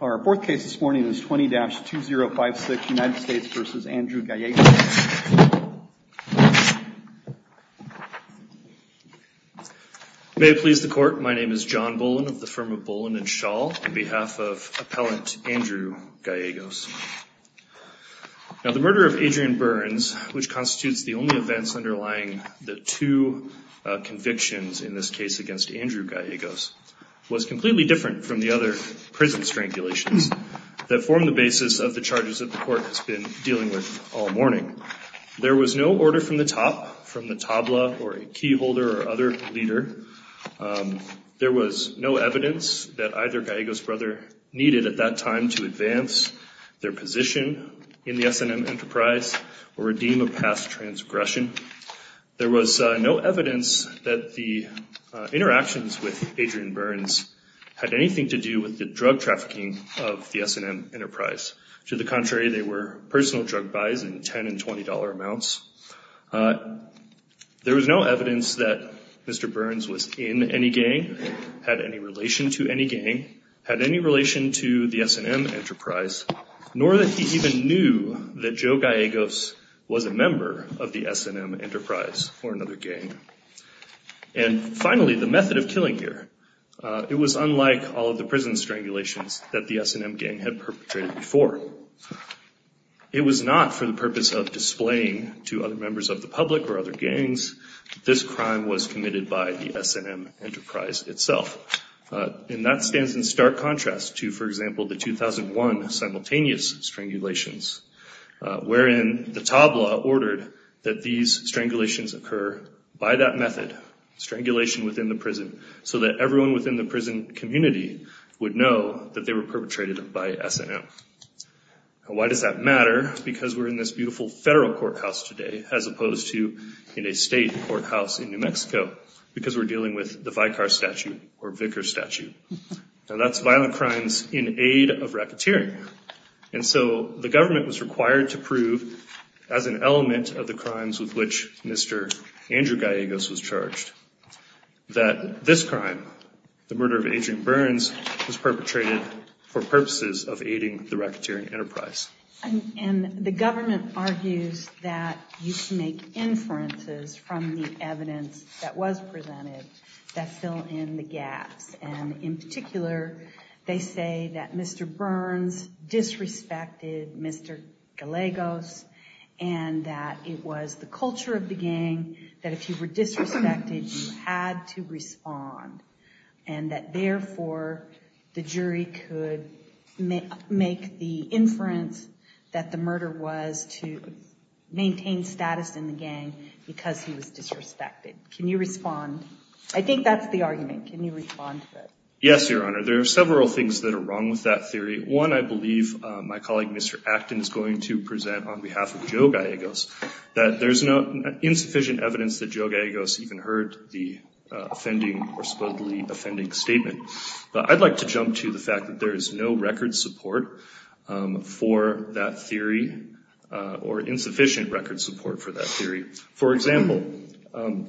Our fourth case this morning is 20-2056 United States v. Andrew Gallegos. May it please the court, my name is John Bolin of the firm of Bolin and Schall, on behalf of appellant Andrew Gallegos. Now the murder of Adrian Burns, which constitutes the only events underlying the two convictions in this case against Andrew Gallegos, was completely different from the other prison strangulations that form the basis of the charges that the court has been dealing with all morning. There was no order from the top, from the tabla or a key holder or other leader. There was no evidence that either Gallegos brother needed at that time to advance their position in the S&M enterprise or redeem a past transgression. There was no evidence that the interactions with Adrian Burns had anything to do with the drug trafficking of the S&M enterprise. To the contrary, they were personal drug buys in $10 and $20 amounts. There was no evidence that Mr. Burns was in any gang, had any relation to any gang, had any relation to the S&M enterprise, nor that he even knew that Joe Gallegos was a member of the S&M enterprise or another gang. And finally, the method of killing here. It was unlike all of the prison strangulations that the S&M gang had perpetrated before. It was not for the purpose of displaying to other members of the public or other gangs. This crime was committed by the S&M enterprise itself. And that stands in stark contrast to, for example, the 2001 simultaneous strangulations, wherein the tabla ordered that these strangulations occur by that method, strangulation within the prison, so that everyone within the prison community would know that they were perpetrated by S&M. Why does that matter? Because we're in this beautiful federal courthouse today, as opposed to in a state courthouse in New Mexico, because we're dealing with the Vicar Statute or Vicar Statute. Now that's violent crimes in aid of racketeering. And so the government was required to prove, as an element of the crimes with which Mr. Andrew Gallegos was charged, that this crime, the murder of Agent Burns, was perpetrated for purposes of aiding the racketeering enterprise. And the government argues that you can make inferences from the evidence that was presented that fill in the gaps. And in particular, they say that Mr. Burns disrespected Mr. Gallegos, and that it was the culture of the gang that if you were disrespected, you had to respond. And that therefore, the jury could make the inference that the murder was to maintain status in the gang because he was disrespected. Can you respond? I think that's the argument. Can you respond to that? Yes, Your Honor. There are several things that are wrong with that theory. One, I believe my colleague, Mr. Acton, is going to present on behalf of Joe Gallegos, that there's insufficient evidence that Joe Gallegos even heard the offending or supposedly offending statement. But I'd like to jump to the fact that there is no record support for that theory or insufficient record support for that theory. For example,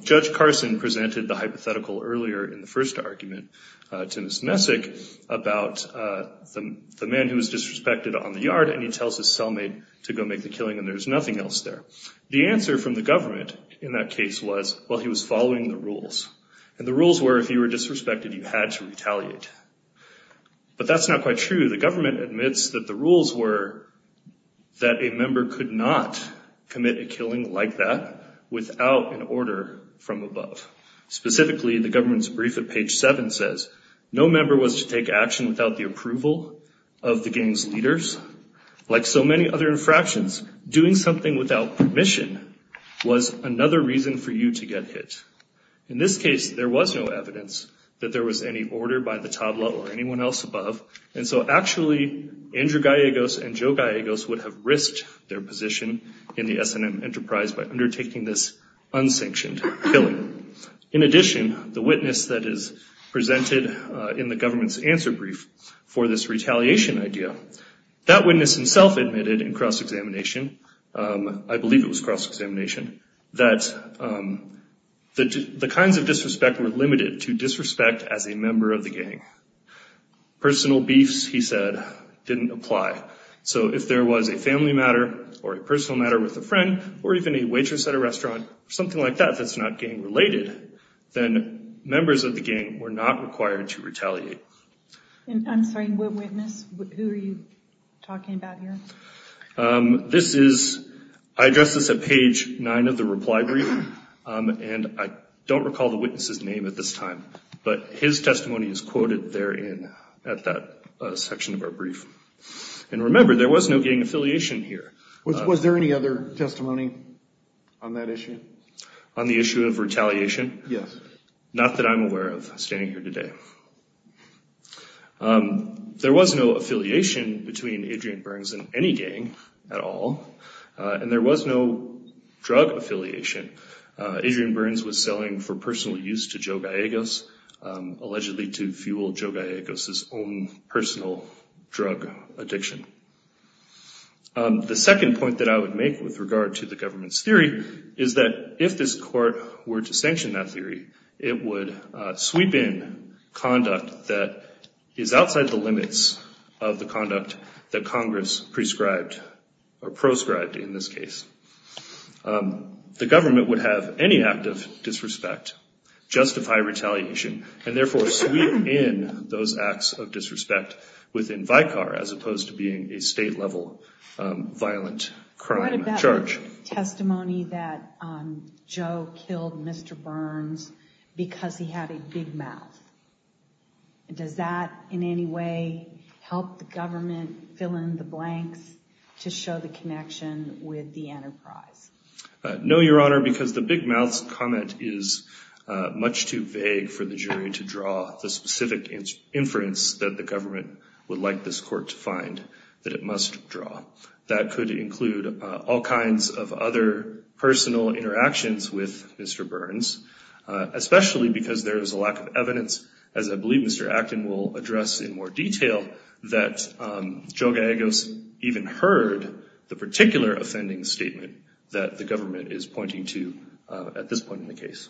Judge Carson presented the hypothetical earlier in the first argument to Ms. Messick about the man who was disrespected on the yard, and he tells his cellmate to go make the killing, and there's nothing else there. The answer from the government in that case was, well, he was following the rules. And the rules were if you were disrespected, you had to retaliate. But that's not quite true. The government admits that the rules were that a member could not commit a killing like that without an order from above. Specifically, the government's brief at page 7 says, no member was to take action without the approval of the gang's leaders. Like so many other infractions, doing something without permission was another reason for you to get hit. In this case, there was no evidence that there was any order by the tabla or anyone else above. And so actually, Andrew Gallegos and Joe Gallegos would have risked their position in the S&M enterprise by undertaking this unsanctioned killing. In addition, the witness that is presented in the government's answer brief for this retaliation idea, that witness himself admitted in cross-examination, I believe it was cross-examination, that the kinds of disrespect were limited to disrespect as a member of the gang. Personal beefs, he said, didn't apply. So if there was a family matter or a personal matter with a friend or even a waitress at a restaurant or something like that that's not gang-related, then members of the gang were not required to retaliate. I'm sorry, what witness? Who are you talking about here? This is, I addressed this at page 9 of the reply brief, and I don't recall the witness's name at this time. But his testimony is quoted therein at that section of our brief. And remember, there was no gang affiliation here. Was there any other testimony on that issue? On the issue of retaliation? Yes. Not that I'm aware of, standing here today. There was no affiliation between Adrian Burns and any gang at all, and there was no drug affiliation. Adrian Burns was selling for personal use to Joe Gallegos, allegedly to fuel Joe Gallegos' own personal drug addiction. The second point that I would make with regard to the government's theory is that if this court were to sanction that theory, it would sweep in conduct that is outside the limits of the conduct that Congress prescribed or proscribed in this case. The government would have any act of disrespect justify retaliation, and therefore sweep in those acts of disrespect within Vicar as opposed to being a state-level violent crime charge. What about the testimony that Joe killed Mr. Burns because he had a big mouth? Does that in any way help the government fill in the blanks to show the connection with the enterprise? No, Your Honor, because the big mouth comment is much too vague for the jury to draw the specific inference that the government would like this court to find that it must draw. That could include all kinds of other personal interactions with Mr. Burns, especially because there is a lack of evidence, as I believe Mr. Acton will address in more detail, that Joe Gallegos even heard the particular offending statement that the government is pointing to at this point in the case.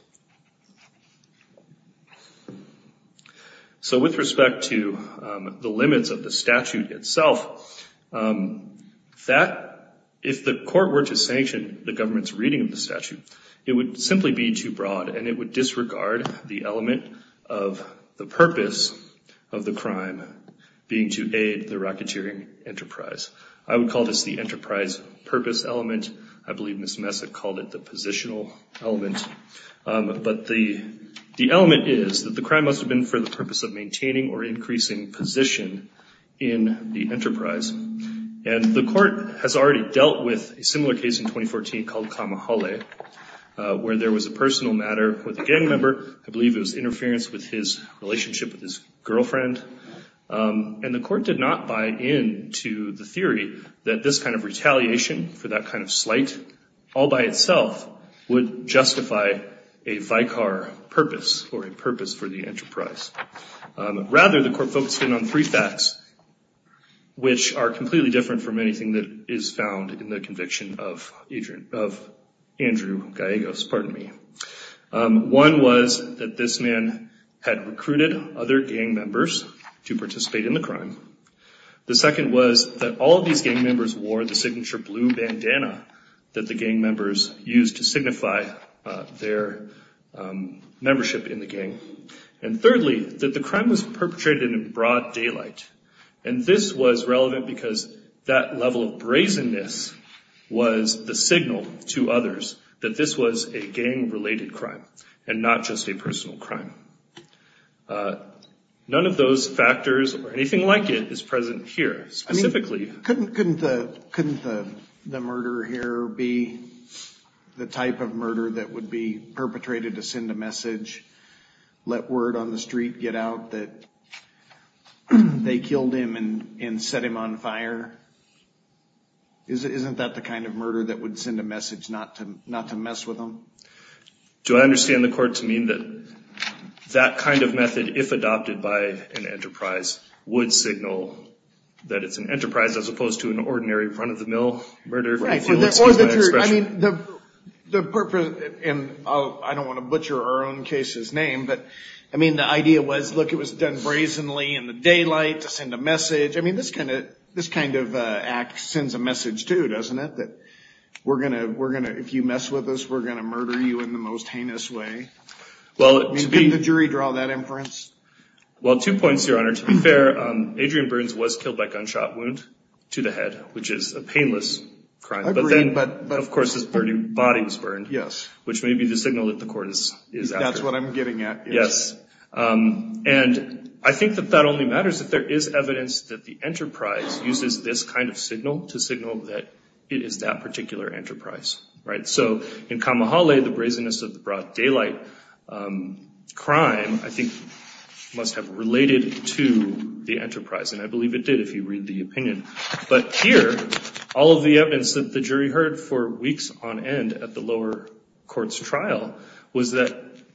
So with respect to the limits of the statute itself, if the court were to sanction the government's reading of the statute, it would simply be too broad and it would disregard the element of the purpose of the crime being to aid the racketeering enterprise. I would call this the enterprise purpose element. I believe Ms. Messick called it the positional element. But the element is that the crime must have been for the purpose of maintaining or increasing position in the enterprise. And the court has already dealt with a similar case in 2014 called Kamahole, where there was a personal matter with a gang member. I believe it was interference with his relationship with his girlfriend. And the court did not buy into the theory that this kind of retaliation for that kind of slight, all by itself, would justify a vicar purpose or a purpose for the enterprise. Rather, the court focused in on three facts, which are completely different from anything that is found in the conviction of Andrew Gallegos. One was that this man had recruited other gang members to participate in the crime. The second was that all of these gang members wore the signature blue bandana that the gang members used to signify their membership in the gang. And thirdly, that the crime was perpetrated in broad daylight. And this was relevant because that level of brazenness was the signal to others that this was a gang-related crime and not just a personal crime. None of those factors or anything like it is present here, specifically. Couldn't the murder here be the type of murder that would be perpetrated to send a message, let word on the street, get out that they killed him and set him on fire? Isn't that the kind of murder that would send a message not to mess with them? Do I understand the court to mean that that kind of method, if adopted by an enterprise, would signal that it's an enterprise as opposed to an ordinary front-of-the-mill murder? I mean, the purpose, and I don't want to butcher our own case's name, but I mean, the idea was, look, it was done brazenly in the daylight to send a message. I mean, this kind of act sends a message, too, doesn't it? That if you mess with us, we're going to murder you in the most heinous way. Couldn't the jury draw that inference? Well, two points, Your Honor. To be fair, Adrian Burns was killed by gunshot wound to the head, which is a painless crime. But then, of course, his body was burned, which may be the signal that the court is after. That's what I'm getting at. Yes. And I think that that only matters if there is evidence that the enterprise uses this kind of signal to signal that it is that particular enterprise, right? So in Kamahale, the brazenness of the broad daylight crime, I think, must have related to the enterprise, and I believe it did, if you read the opinion. But here, all of the evidence that the jury heard for weeks on end at the lower court's trial was that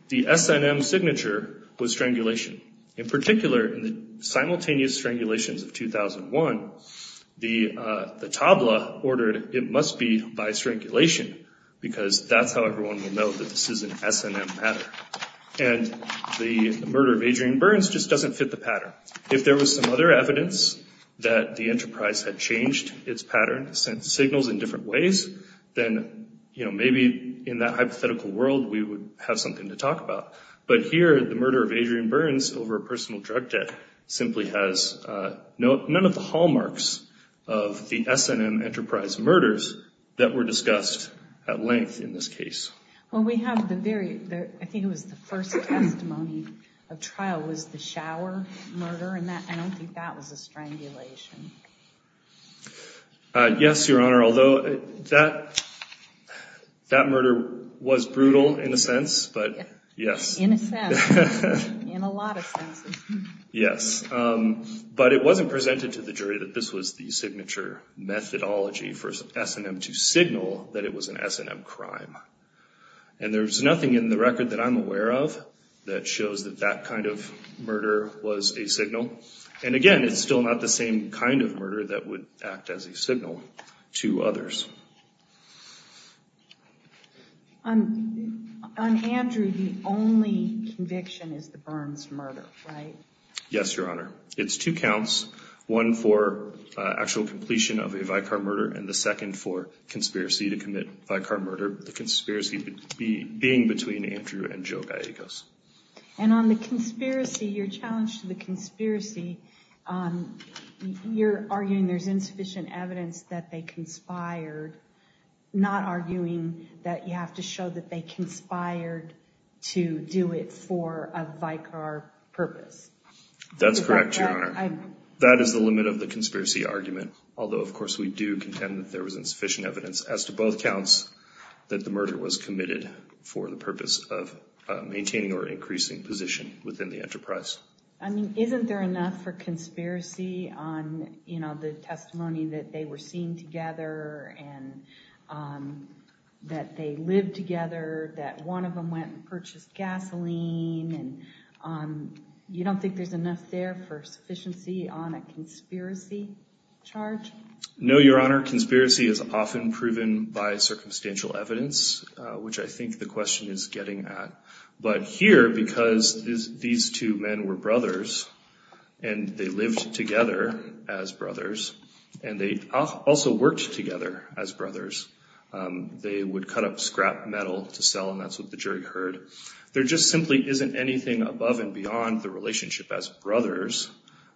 the S&M signature was strangulation. In particular, in the simultaneous strangulations of 2001, the tabla ordered it must be by strangulation because that's how everyone will know that this is an S&M pattern. And the murder of Adrian Burns just doesn't fit the pattern. If there was some other evidence that the enterprise had changed its pattern, sent signals in different ways, then maybe in that hypothetical world we would have something to talk about. But here, the murder of Adrian Burns over a personal drug debt simply has none of the hallmarks of the S&M enterprise murders that were discussed at length in this case. Well, we have the very—I think it was the first testimony of trial was the shower murder, and I don't think that was a strangulation. Yes, Your Honor, although that murder was brutal in a sense, but yes. In a sense, in a lot of senses. Yes. But it wasn't presented to the jury that this was the signature methodology for S&M to signal that it was an S&M crime. And there's nothing in the record that I'm aware of that shows that that kind of murder was a signal. And again, it's still not the same kind of murder that would act as a signal to others. On Andrew, the only conviction is the Burns murder, right? Yes, Your Honor. It's two counts, one for actual completion of a Vicar murder and the second for conspiracy to commit Vicar murder, the conspiracy being between Andrew and Joe Gallegos. And on the conspiracy, your challenge to the conspiracy, you're arguing there's insufficient evidence that they conspired, not arguing that you have to show that they conspired to do it for a Vicar purpose. That's correct, Your Honor. That is the limit of the conspiracy argument, although of course we do contend that there was insufficient evidence as to both counts that the murder was committed for the purpose of maintaining or increasing position within the enterprise. I mean, isn't there enough for conspiracy on, you know, the testimony that they were seen together and that they lived together, that one of them went and purchased gasoline? And you don't think there's enough there for sufficiency on a conspiracy charge? No, Your Honor. Conspiracy is often proven by circumstantial evidence, which I think the question is getting at. But here, because these two men were brothers and they lived together as brothers and they also worked together as brothers, they would cut up scrap metal to sell, and that's what the jury heard. There just simply isn't anything above and beyond the relationship as brothers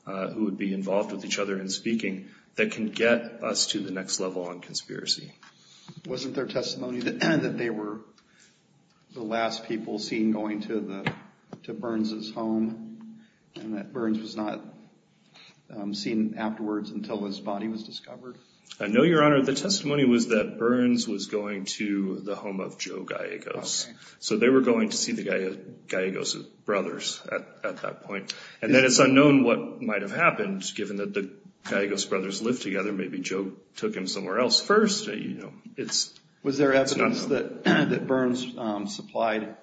who would be involved with each other in speaking that can get us to the next level on conspiracy. Wasn't there testimony that they were the last people seen going to Burns' home and that Burns was not seen afterwards until his body was discovered? No, Your Honor. The testimony was that Burns was going to the home of Joe Gallegos. So they were going to see the Gallegos brothers at that point. And then it's unknown what might have happened, given that the Gallegos brothers lived together. Maybe Joe took him somewhere else first. Was there evidence that Burns supplied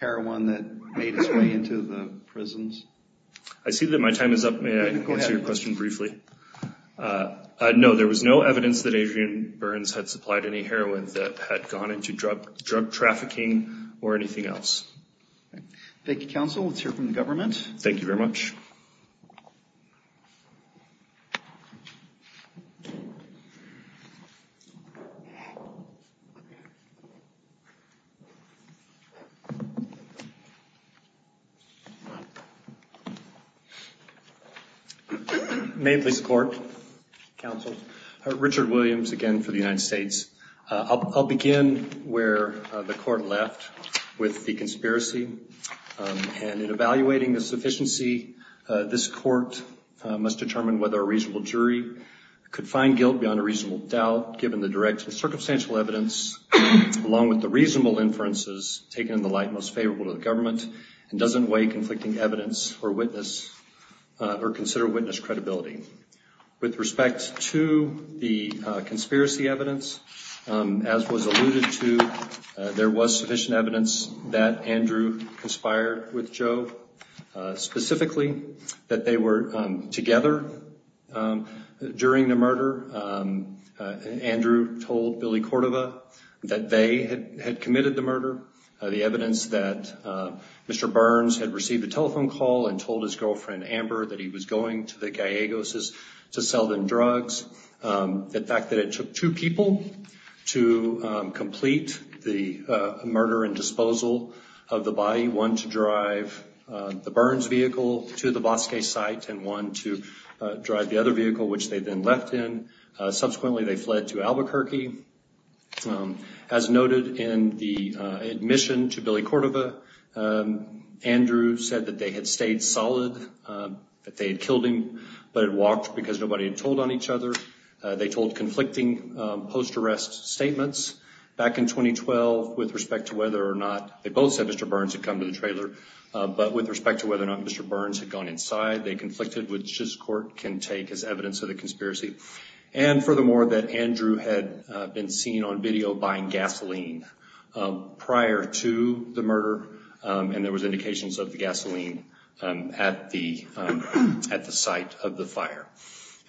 heroin that made his way into the prisons? I see that my time is up. May I answer your question briefly? No, there was no evidence that Adrian Burns had supplied any heroin that had gone into drug trafficking or anything else. All right. Thank you very much. Mapley's Court, counsel. Richard Williams again for the United States. I'll begin where the court left with the conspiracy. And in evaluating the sufficiency, this court must determine whether a reasonable jury could find guilt beyond a reasonable doubt, given the direct and circumstantial evidence, along with the reasonable inferences taken in the light most favorable to the government, and doesn't weigh conflicting evidence or witness or consider witness credibility. With respect to the conspiracy evidence, as was alluded to, there was sufficient evidence that Andrew conspired with Joe, specifically that they were together during the murder. Andrew told Billy Cordova that they had committed the murder. The evidence that Mr. Burns had received a telephone call and told his girlfriend Amber that he was going to the Gallegos to sell them drugs. The fact that it took two people to complete the murder and disposal of the body, one to drive the Burns vehicle to the Bosque site and one to drive the other vehicle, which they then left in. Subsequently, they fled to Albuquerque. As noted in the admission to Billy Cordova, Andrew said that they had stayed solid, that they had killed him, but had walked because nobody had told on each other. They told conflicting post-arrest statements. Back in 2012, with respect to whether or not they both said Mr. Burns had come to the trailer, but with respect to whether or not Mr. Burns had gone inside, they conflicted, which this court can take as evidence of the conspiracy. And furthermore, that Andrew had been seen on video buying gasoline prior to the murder, and there was indications of the gasoline at the site of the fire.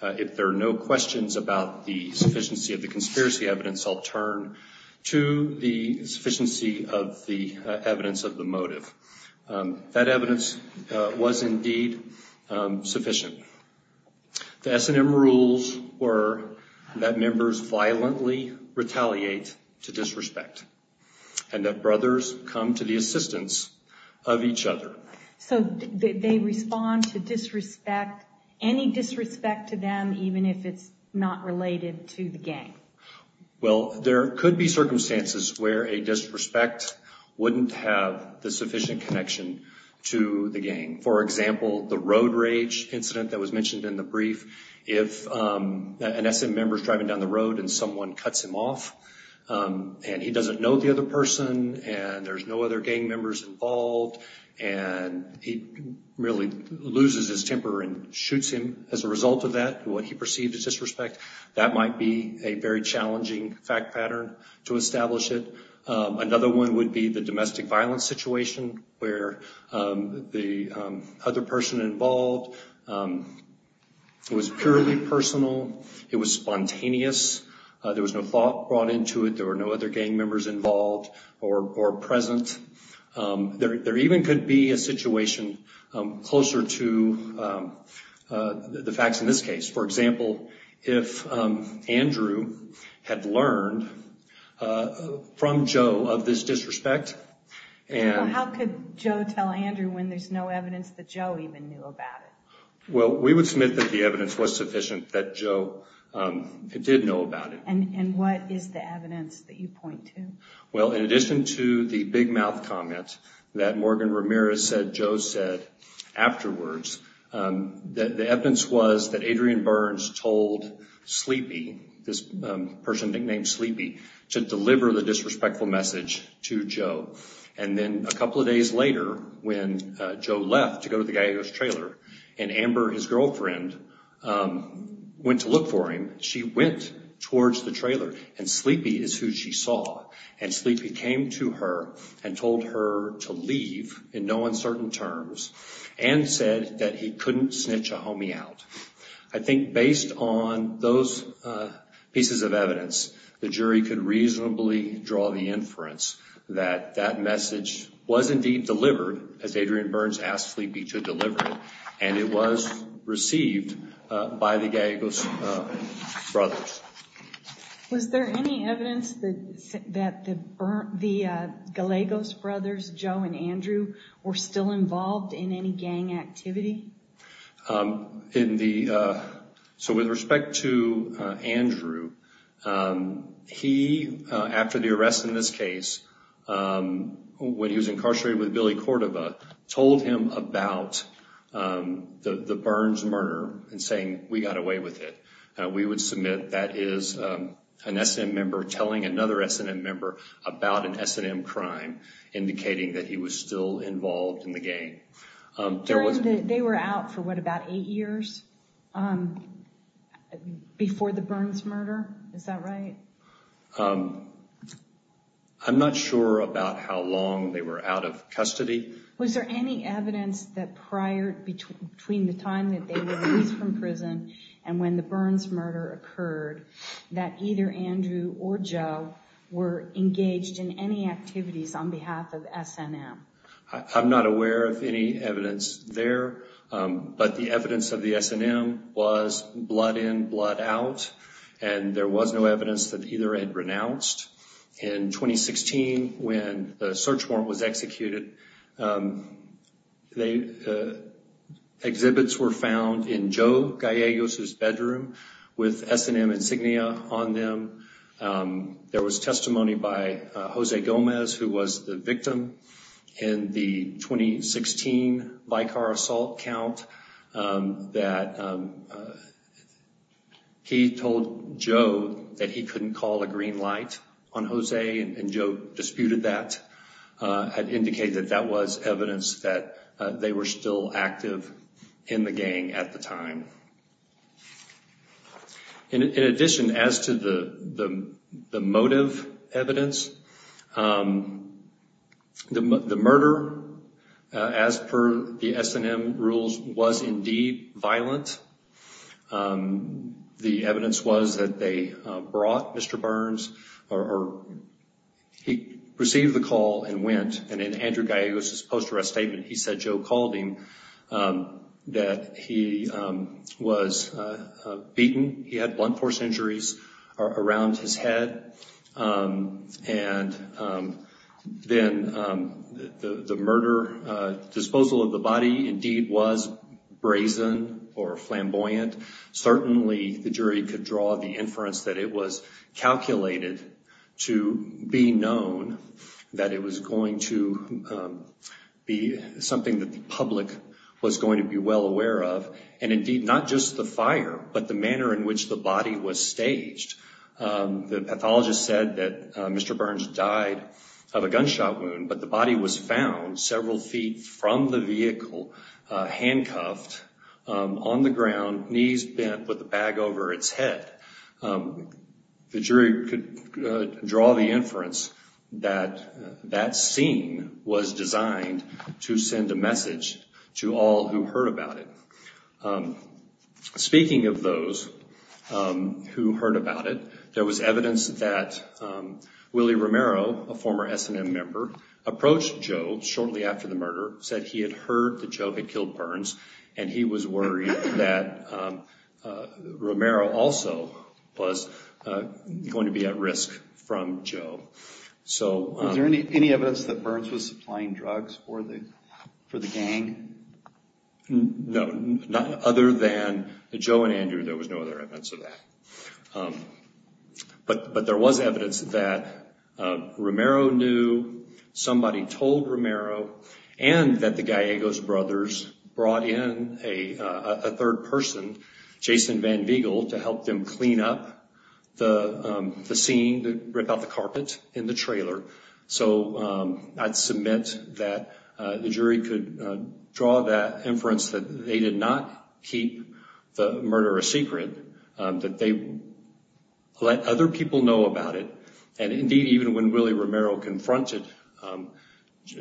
If there are no questions about the sufficiency of the conspiracy evidence, I'll turn to the sufficiency of the evidence of the motive. That evidence was indeed sufficient. The S&M rules were that members violently retaliate to disrespect, and that brothers come to the assistance of each other. So they respond to disrespect, any disrespect to them, even if it's not related to the gang? Well, there could be circumstances where a disrespect wouldn't have the sufficient connection to the gang. For example, the road rage incident that was mentioned in the brief, if an S&M member is driving down the road and someone cuts him off, and he doesn't know the other person, and there's no other gang members involved, and he really loses his temper and shoots him as a result of that, what he perceived as disrespect, that might be a very challenging fact pattern to establish it. Another one would be the domestic violence situation where the other person involved was purely personal. It was spontaneous. There was no thought brought into it. There were no other gang members involved or present. There even could be a situation closer to the facts in this case. For example, if Andrew had learned from Joe of this disrespect. How could Joe tell Andrew when there's no evidence that Joe even knew about it? Well, we would submit that the evidence was sufficient that Joe did know about it. And what is the evidence that you point to? Well, in addition to the big mouth comment that Morgan Ramirez said Joe said afterwards, the evidence was that Adrian Burns told Sleepy, this person nicknamed Sleepy, to deliver the disrespectful message to Joe. And then a couple of days later, when Joe left to go to the Gallegos trailer, and Amber, his girlfriend, went to look for him, she went towards the trailer, and Sleepy is who she saw. And Sleepy came to her and told her to leave in no uncertain terms and said that he couldn't snitch a homie out. I think based on those pieces of evidence, the jury could reasonably draw the inference that that message was indeed delivered, as Adrian Burns asked Sleepy to deliver it, and it was received by the Gallegos brothers. Was there any evidence that the Gallegos brothers, Joe and Andrew, were still involved in any gang activity? So with respect to Andrew, he, after the arrest in this case, when he was incarcerated with Billy Cordova, told him about the Burns murder and saying, we got away with it. We would submit that is an S&M member telling another S&M member about an S&M crime, indicating that he was still involved in the gang. They were out for, what, about eight years before the Burns murder? Is that right? I'm not sure about how long they were out of custody. Was there any evidence that prior, between the time that they were released from prison and when the Burns murder occurred, that either Andrew or Joe were engaged in any activities on behalf of S&M? I'm not aware of any evidence there, but the evidence of the S&M was blood in, blood out, and there was no evidence that either had renounced. In 2016, when the search warrant was executed, exhibits were found in Joe Gallegos' bedroom with S&M insignia on them. There was testimony by Jose Gomez, who was the victim, in the 2016 Vicar assault count that he told Joe that he couldn't call a green light on Jose, and Joe disputed that and indicated that that was evidence that they were still active in the gang at the time. In addition, as to the motive evidence, the murder, as per the S&M rules, was indeed violent. The evidence was that they brought Mr. Burns, or he received the call and went, and in Andrew Gallegos' post-arrest statement, he said Joe called him, that he was beaten, he had blunt force injuries around his head, and then the murder, disposal of the body indeed was brazen or flamboyant. Certainly, the jury could draw the inference that it was calculated to be known, that it was going to be something that the public was going to be well aware of, and indeed not just the fire, but the manner in which the body was staged. The pathologist said that Mr. Burns died of a gunshot wound, but the body was found several feet from the vehicle, handcuffed on the ground, knees bent with the bag over its head. The jury could draw the inference that that scene was designed to send a message to all who heard about it. Speaking of those who heard about it, there was evidence that Willie Romero, a former S&M member, approached Joe shortly after the murder, said he had heard that Joe had killed Burns, and he was worried that Romero also was going to be at risk from Joe. Is there any evidence that Burns was supplying drugs for the gang? No. Other than Joe and Andrew, there was no other evidence of that. But there was evidence that Romero knew, somebody told Romero, and that the Gallegos brothers brought in a third person, Jason Van Vigel, to help them clean up the scene, to rip out the carpet in the trailer. So I'd submit that the jury could draw that inference that they did not keep the murder a secret, that they let other people know about it. And indeed, even when Willie Romero confronted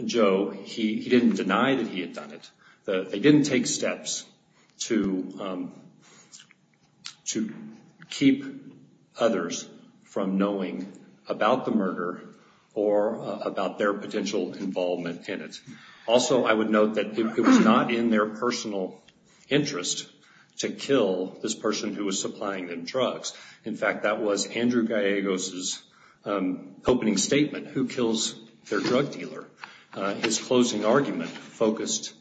Joe, he didn't deny that he had done it. They didn't take steps to keep others from knowing about the murder or about their potential involvement in it. Also, I would note that it was not in their personal interest to kill this person who was supplying them drugs. In fact, that was Andrew Gallegos' opening statement, who kills their drug dealer. His closing argument focused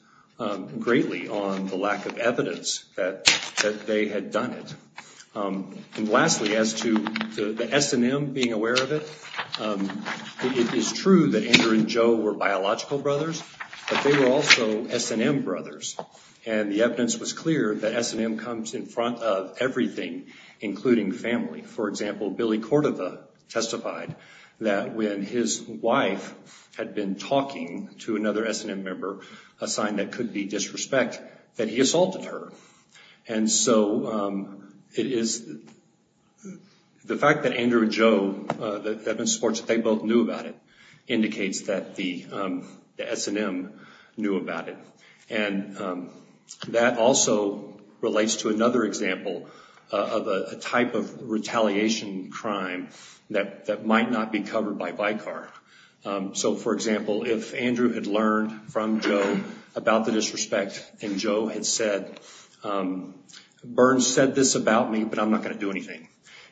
greatly on the lack of evidence that they had done it. And lastly, as to the S&M being aware of it, it is true that Andrew and Joe were biological brothers, but they were also S&M brothers. And the evidence was clear that S&M comes in front of everything, including family. For example, Billy Cordova testified that when his wife had been talking to another S&M member, a sign that could be disrespect, that he assaulted her. And so it is the fact that Andrew and Joe, that they both knew about it, indicates that the S&M knew about it. And that also relates to another example of a type of retaliation crime that might not be covered by Vicar. So, for example, if Andrew had learned from Joe about the disrespect, and Joe had said, Bern said this about me, but I'm not going to do anything.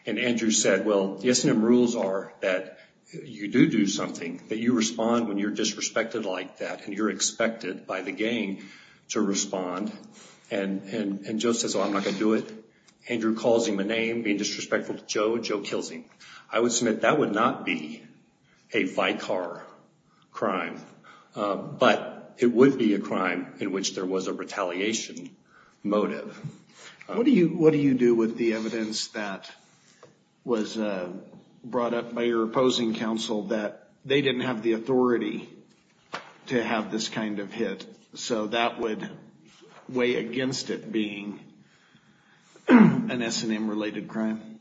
And Andrew said, well, the S&M rules are that you do do something, that you respond when you're disrespected like that, and you're expected by the gang to respond. And Joe says, well, I'm not going to do it. Andrew calls him a name, being disrespectful to Joe. Joe kills him. I would submit that would not be a Vicar crime, but it would be a crime in which there was a retaliation motive. What do you do with the evidence that was brought up by your opposing counsel that they didn't have the authority to have this kind of hit, so that would weigh against it being an S&M-related crime?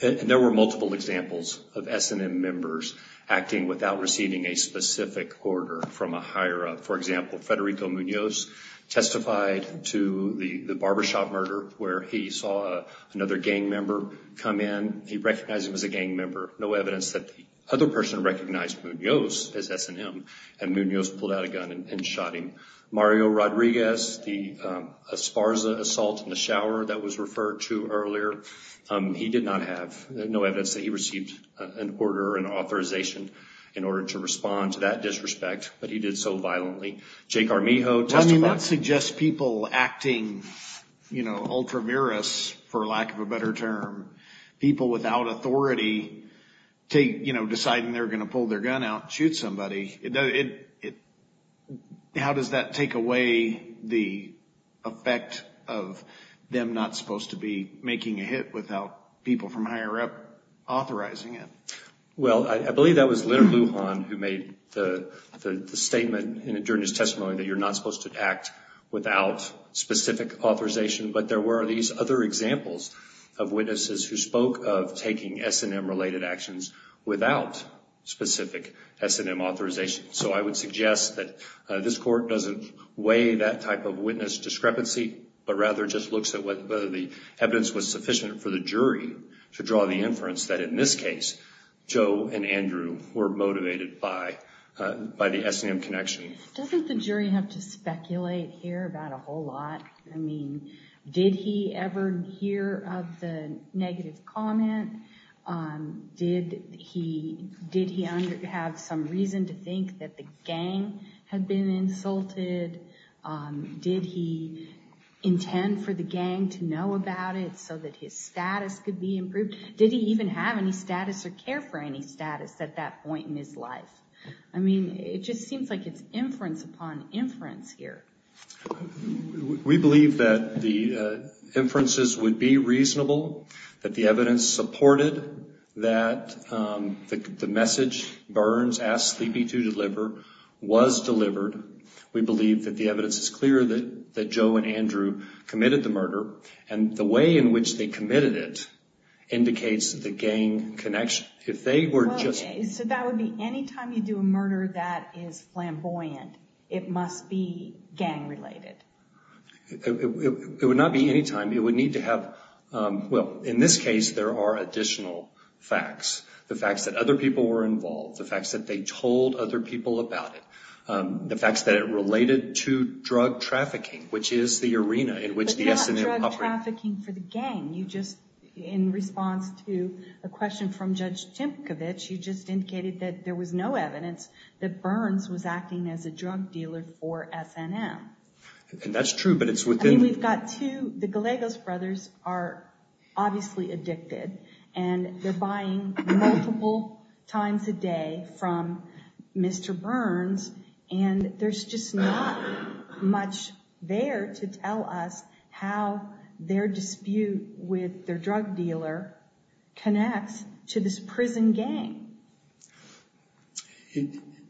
There were multiple examples of S&M members acting without receiving a specific order from a higher-up. For example, Federico Munoz testified to the barbershop murder where he saw another gang member come in. He recognized him as a gang member. No evidence that the other person recognized Munoz as S&M, and Munoz pulled out a gun and shot him. Mario Rodriguez, the Esparza assault in the shower that was referred to earlier, he did not have. There's no evidence that he received an order or an authorization in order to respond to that disrespect, but he did so violently. Jake Armijo testified. Well, I mean, that suggests people acting, you know, ultramarous, for lack of a better term, people without authority deciding they're going to pull their gun out and shoot somebody. How does that take away the effect of them not supposed to be making a hit without people from a higher-up authorizing it? Well, I believe that was Leonard Lujan who made the statement during his testimony that you're not supposed to act without specific authorization, but there were these other examples of witnesses who spoke of taking S&M-related actions without specific S&M authorization. So I would suggest that this Court doesn't weigh that type of witness discrepancy, but rather just looks at whether the evidence was sufficient for the jury to draw the inference that, in this case, Joe and Andrew were motivated by the S&M connection. Doesn't the jury have to speculate here about a whole lot? I mean, did he ever hear of the negative comment? Did he have some reason to think that the gang had been insulted? Did he intend for the gang to know about it so that his status could be improved? Did he even have any status or care for any status at that point in his life? I mean, it just seems like it's inference upon inference here. We believe that the inferences would be reasonable, that the evidence supported that the message Burns asked Sleepy to deliver was delivered. We believe that the evidence is clear that Joe and Andrew committed the murder, and the way in which they committed it indicates the gang connection. So that would be any time you do a murder that is flamboyant, it must be gang-related? It would not be any time. It would need to have – well, in this case, there are additional facts. The facts that other people were involved, the facts that they told other people about it, the facts that it related to drug trafficking, which is the arena in which the S&M – You just, in response to a question from Judge Timkovich, you just indicated that there was no evidence that Burns was acting as a drug dealer for S&M. And that's true, but it's within – I mean, we've got two – the Gallegos brothers are obviously addicted, and they're buying multiple times a day from Mr. Burns, and there's just not much there to tell us how their dispute with their drug dealer connects to this prison gang.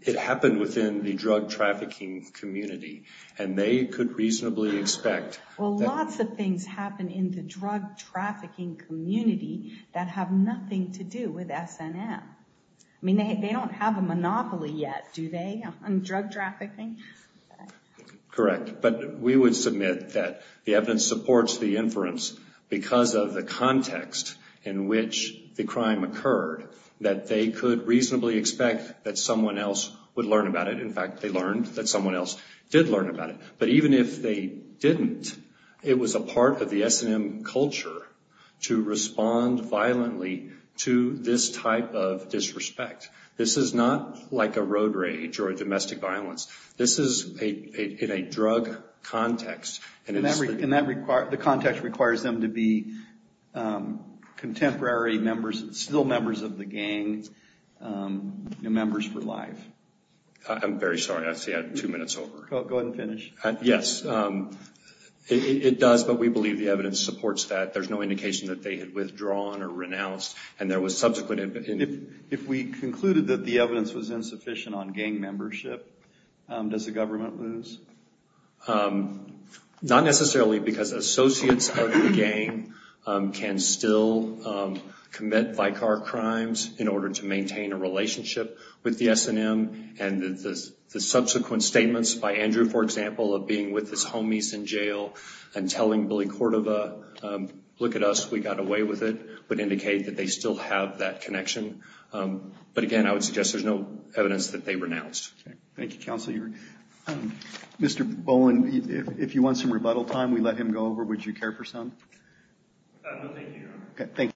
It happened within the drug trafficking community, and they could reasonably expect – Well, lots of things happen in the drug trafficking community that have nothing to do with S&M. I mean, they don't have a monopoly yet, do they, on drug trafficking? Correct. But we would submit that the evidence supports the inference because of the context in which the crime occurred that they could reasonably expect that someone else would learn about it. In fact, they learned that someone else did learn about it. But even if they didn't, it was a part of the S&M culture to respond violently to this type of disrespect. This is not like a road rage or a domestic violence. This is in a drug context. And the context requires them to be contemporary members, still members of the gang, members for life. I'm very sorry. I see I have two minutes over. Go ahead and finish. Yes. It does, but we believe the evidence supports that. There's no indication that they had withdrawn or renounced, and there was subsequent – If we concluded that the evidence was insufficient on gang membership, does the government lose? Not necessarily, because associates of the gang can still commit vicar crimes in order to maintain a relationship with the S&M. And the subsequent statements by Andrew, for example, of being with his homies in jail and telling Billy Cordova, look at us, we got away with it, would indicate that they still have that connection. But again, I would suggest there's no evidence that they renounced. Thank you, Counsel. Mr. Bowen, if you want some rebuttal time, we let him go over. Would you care for some? No, thank you, Your Honor. Thank you.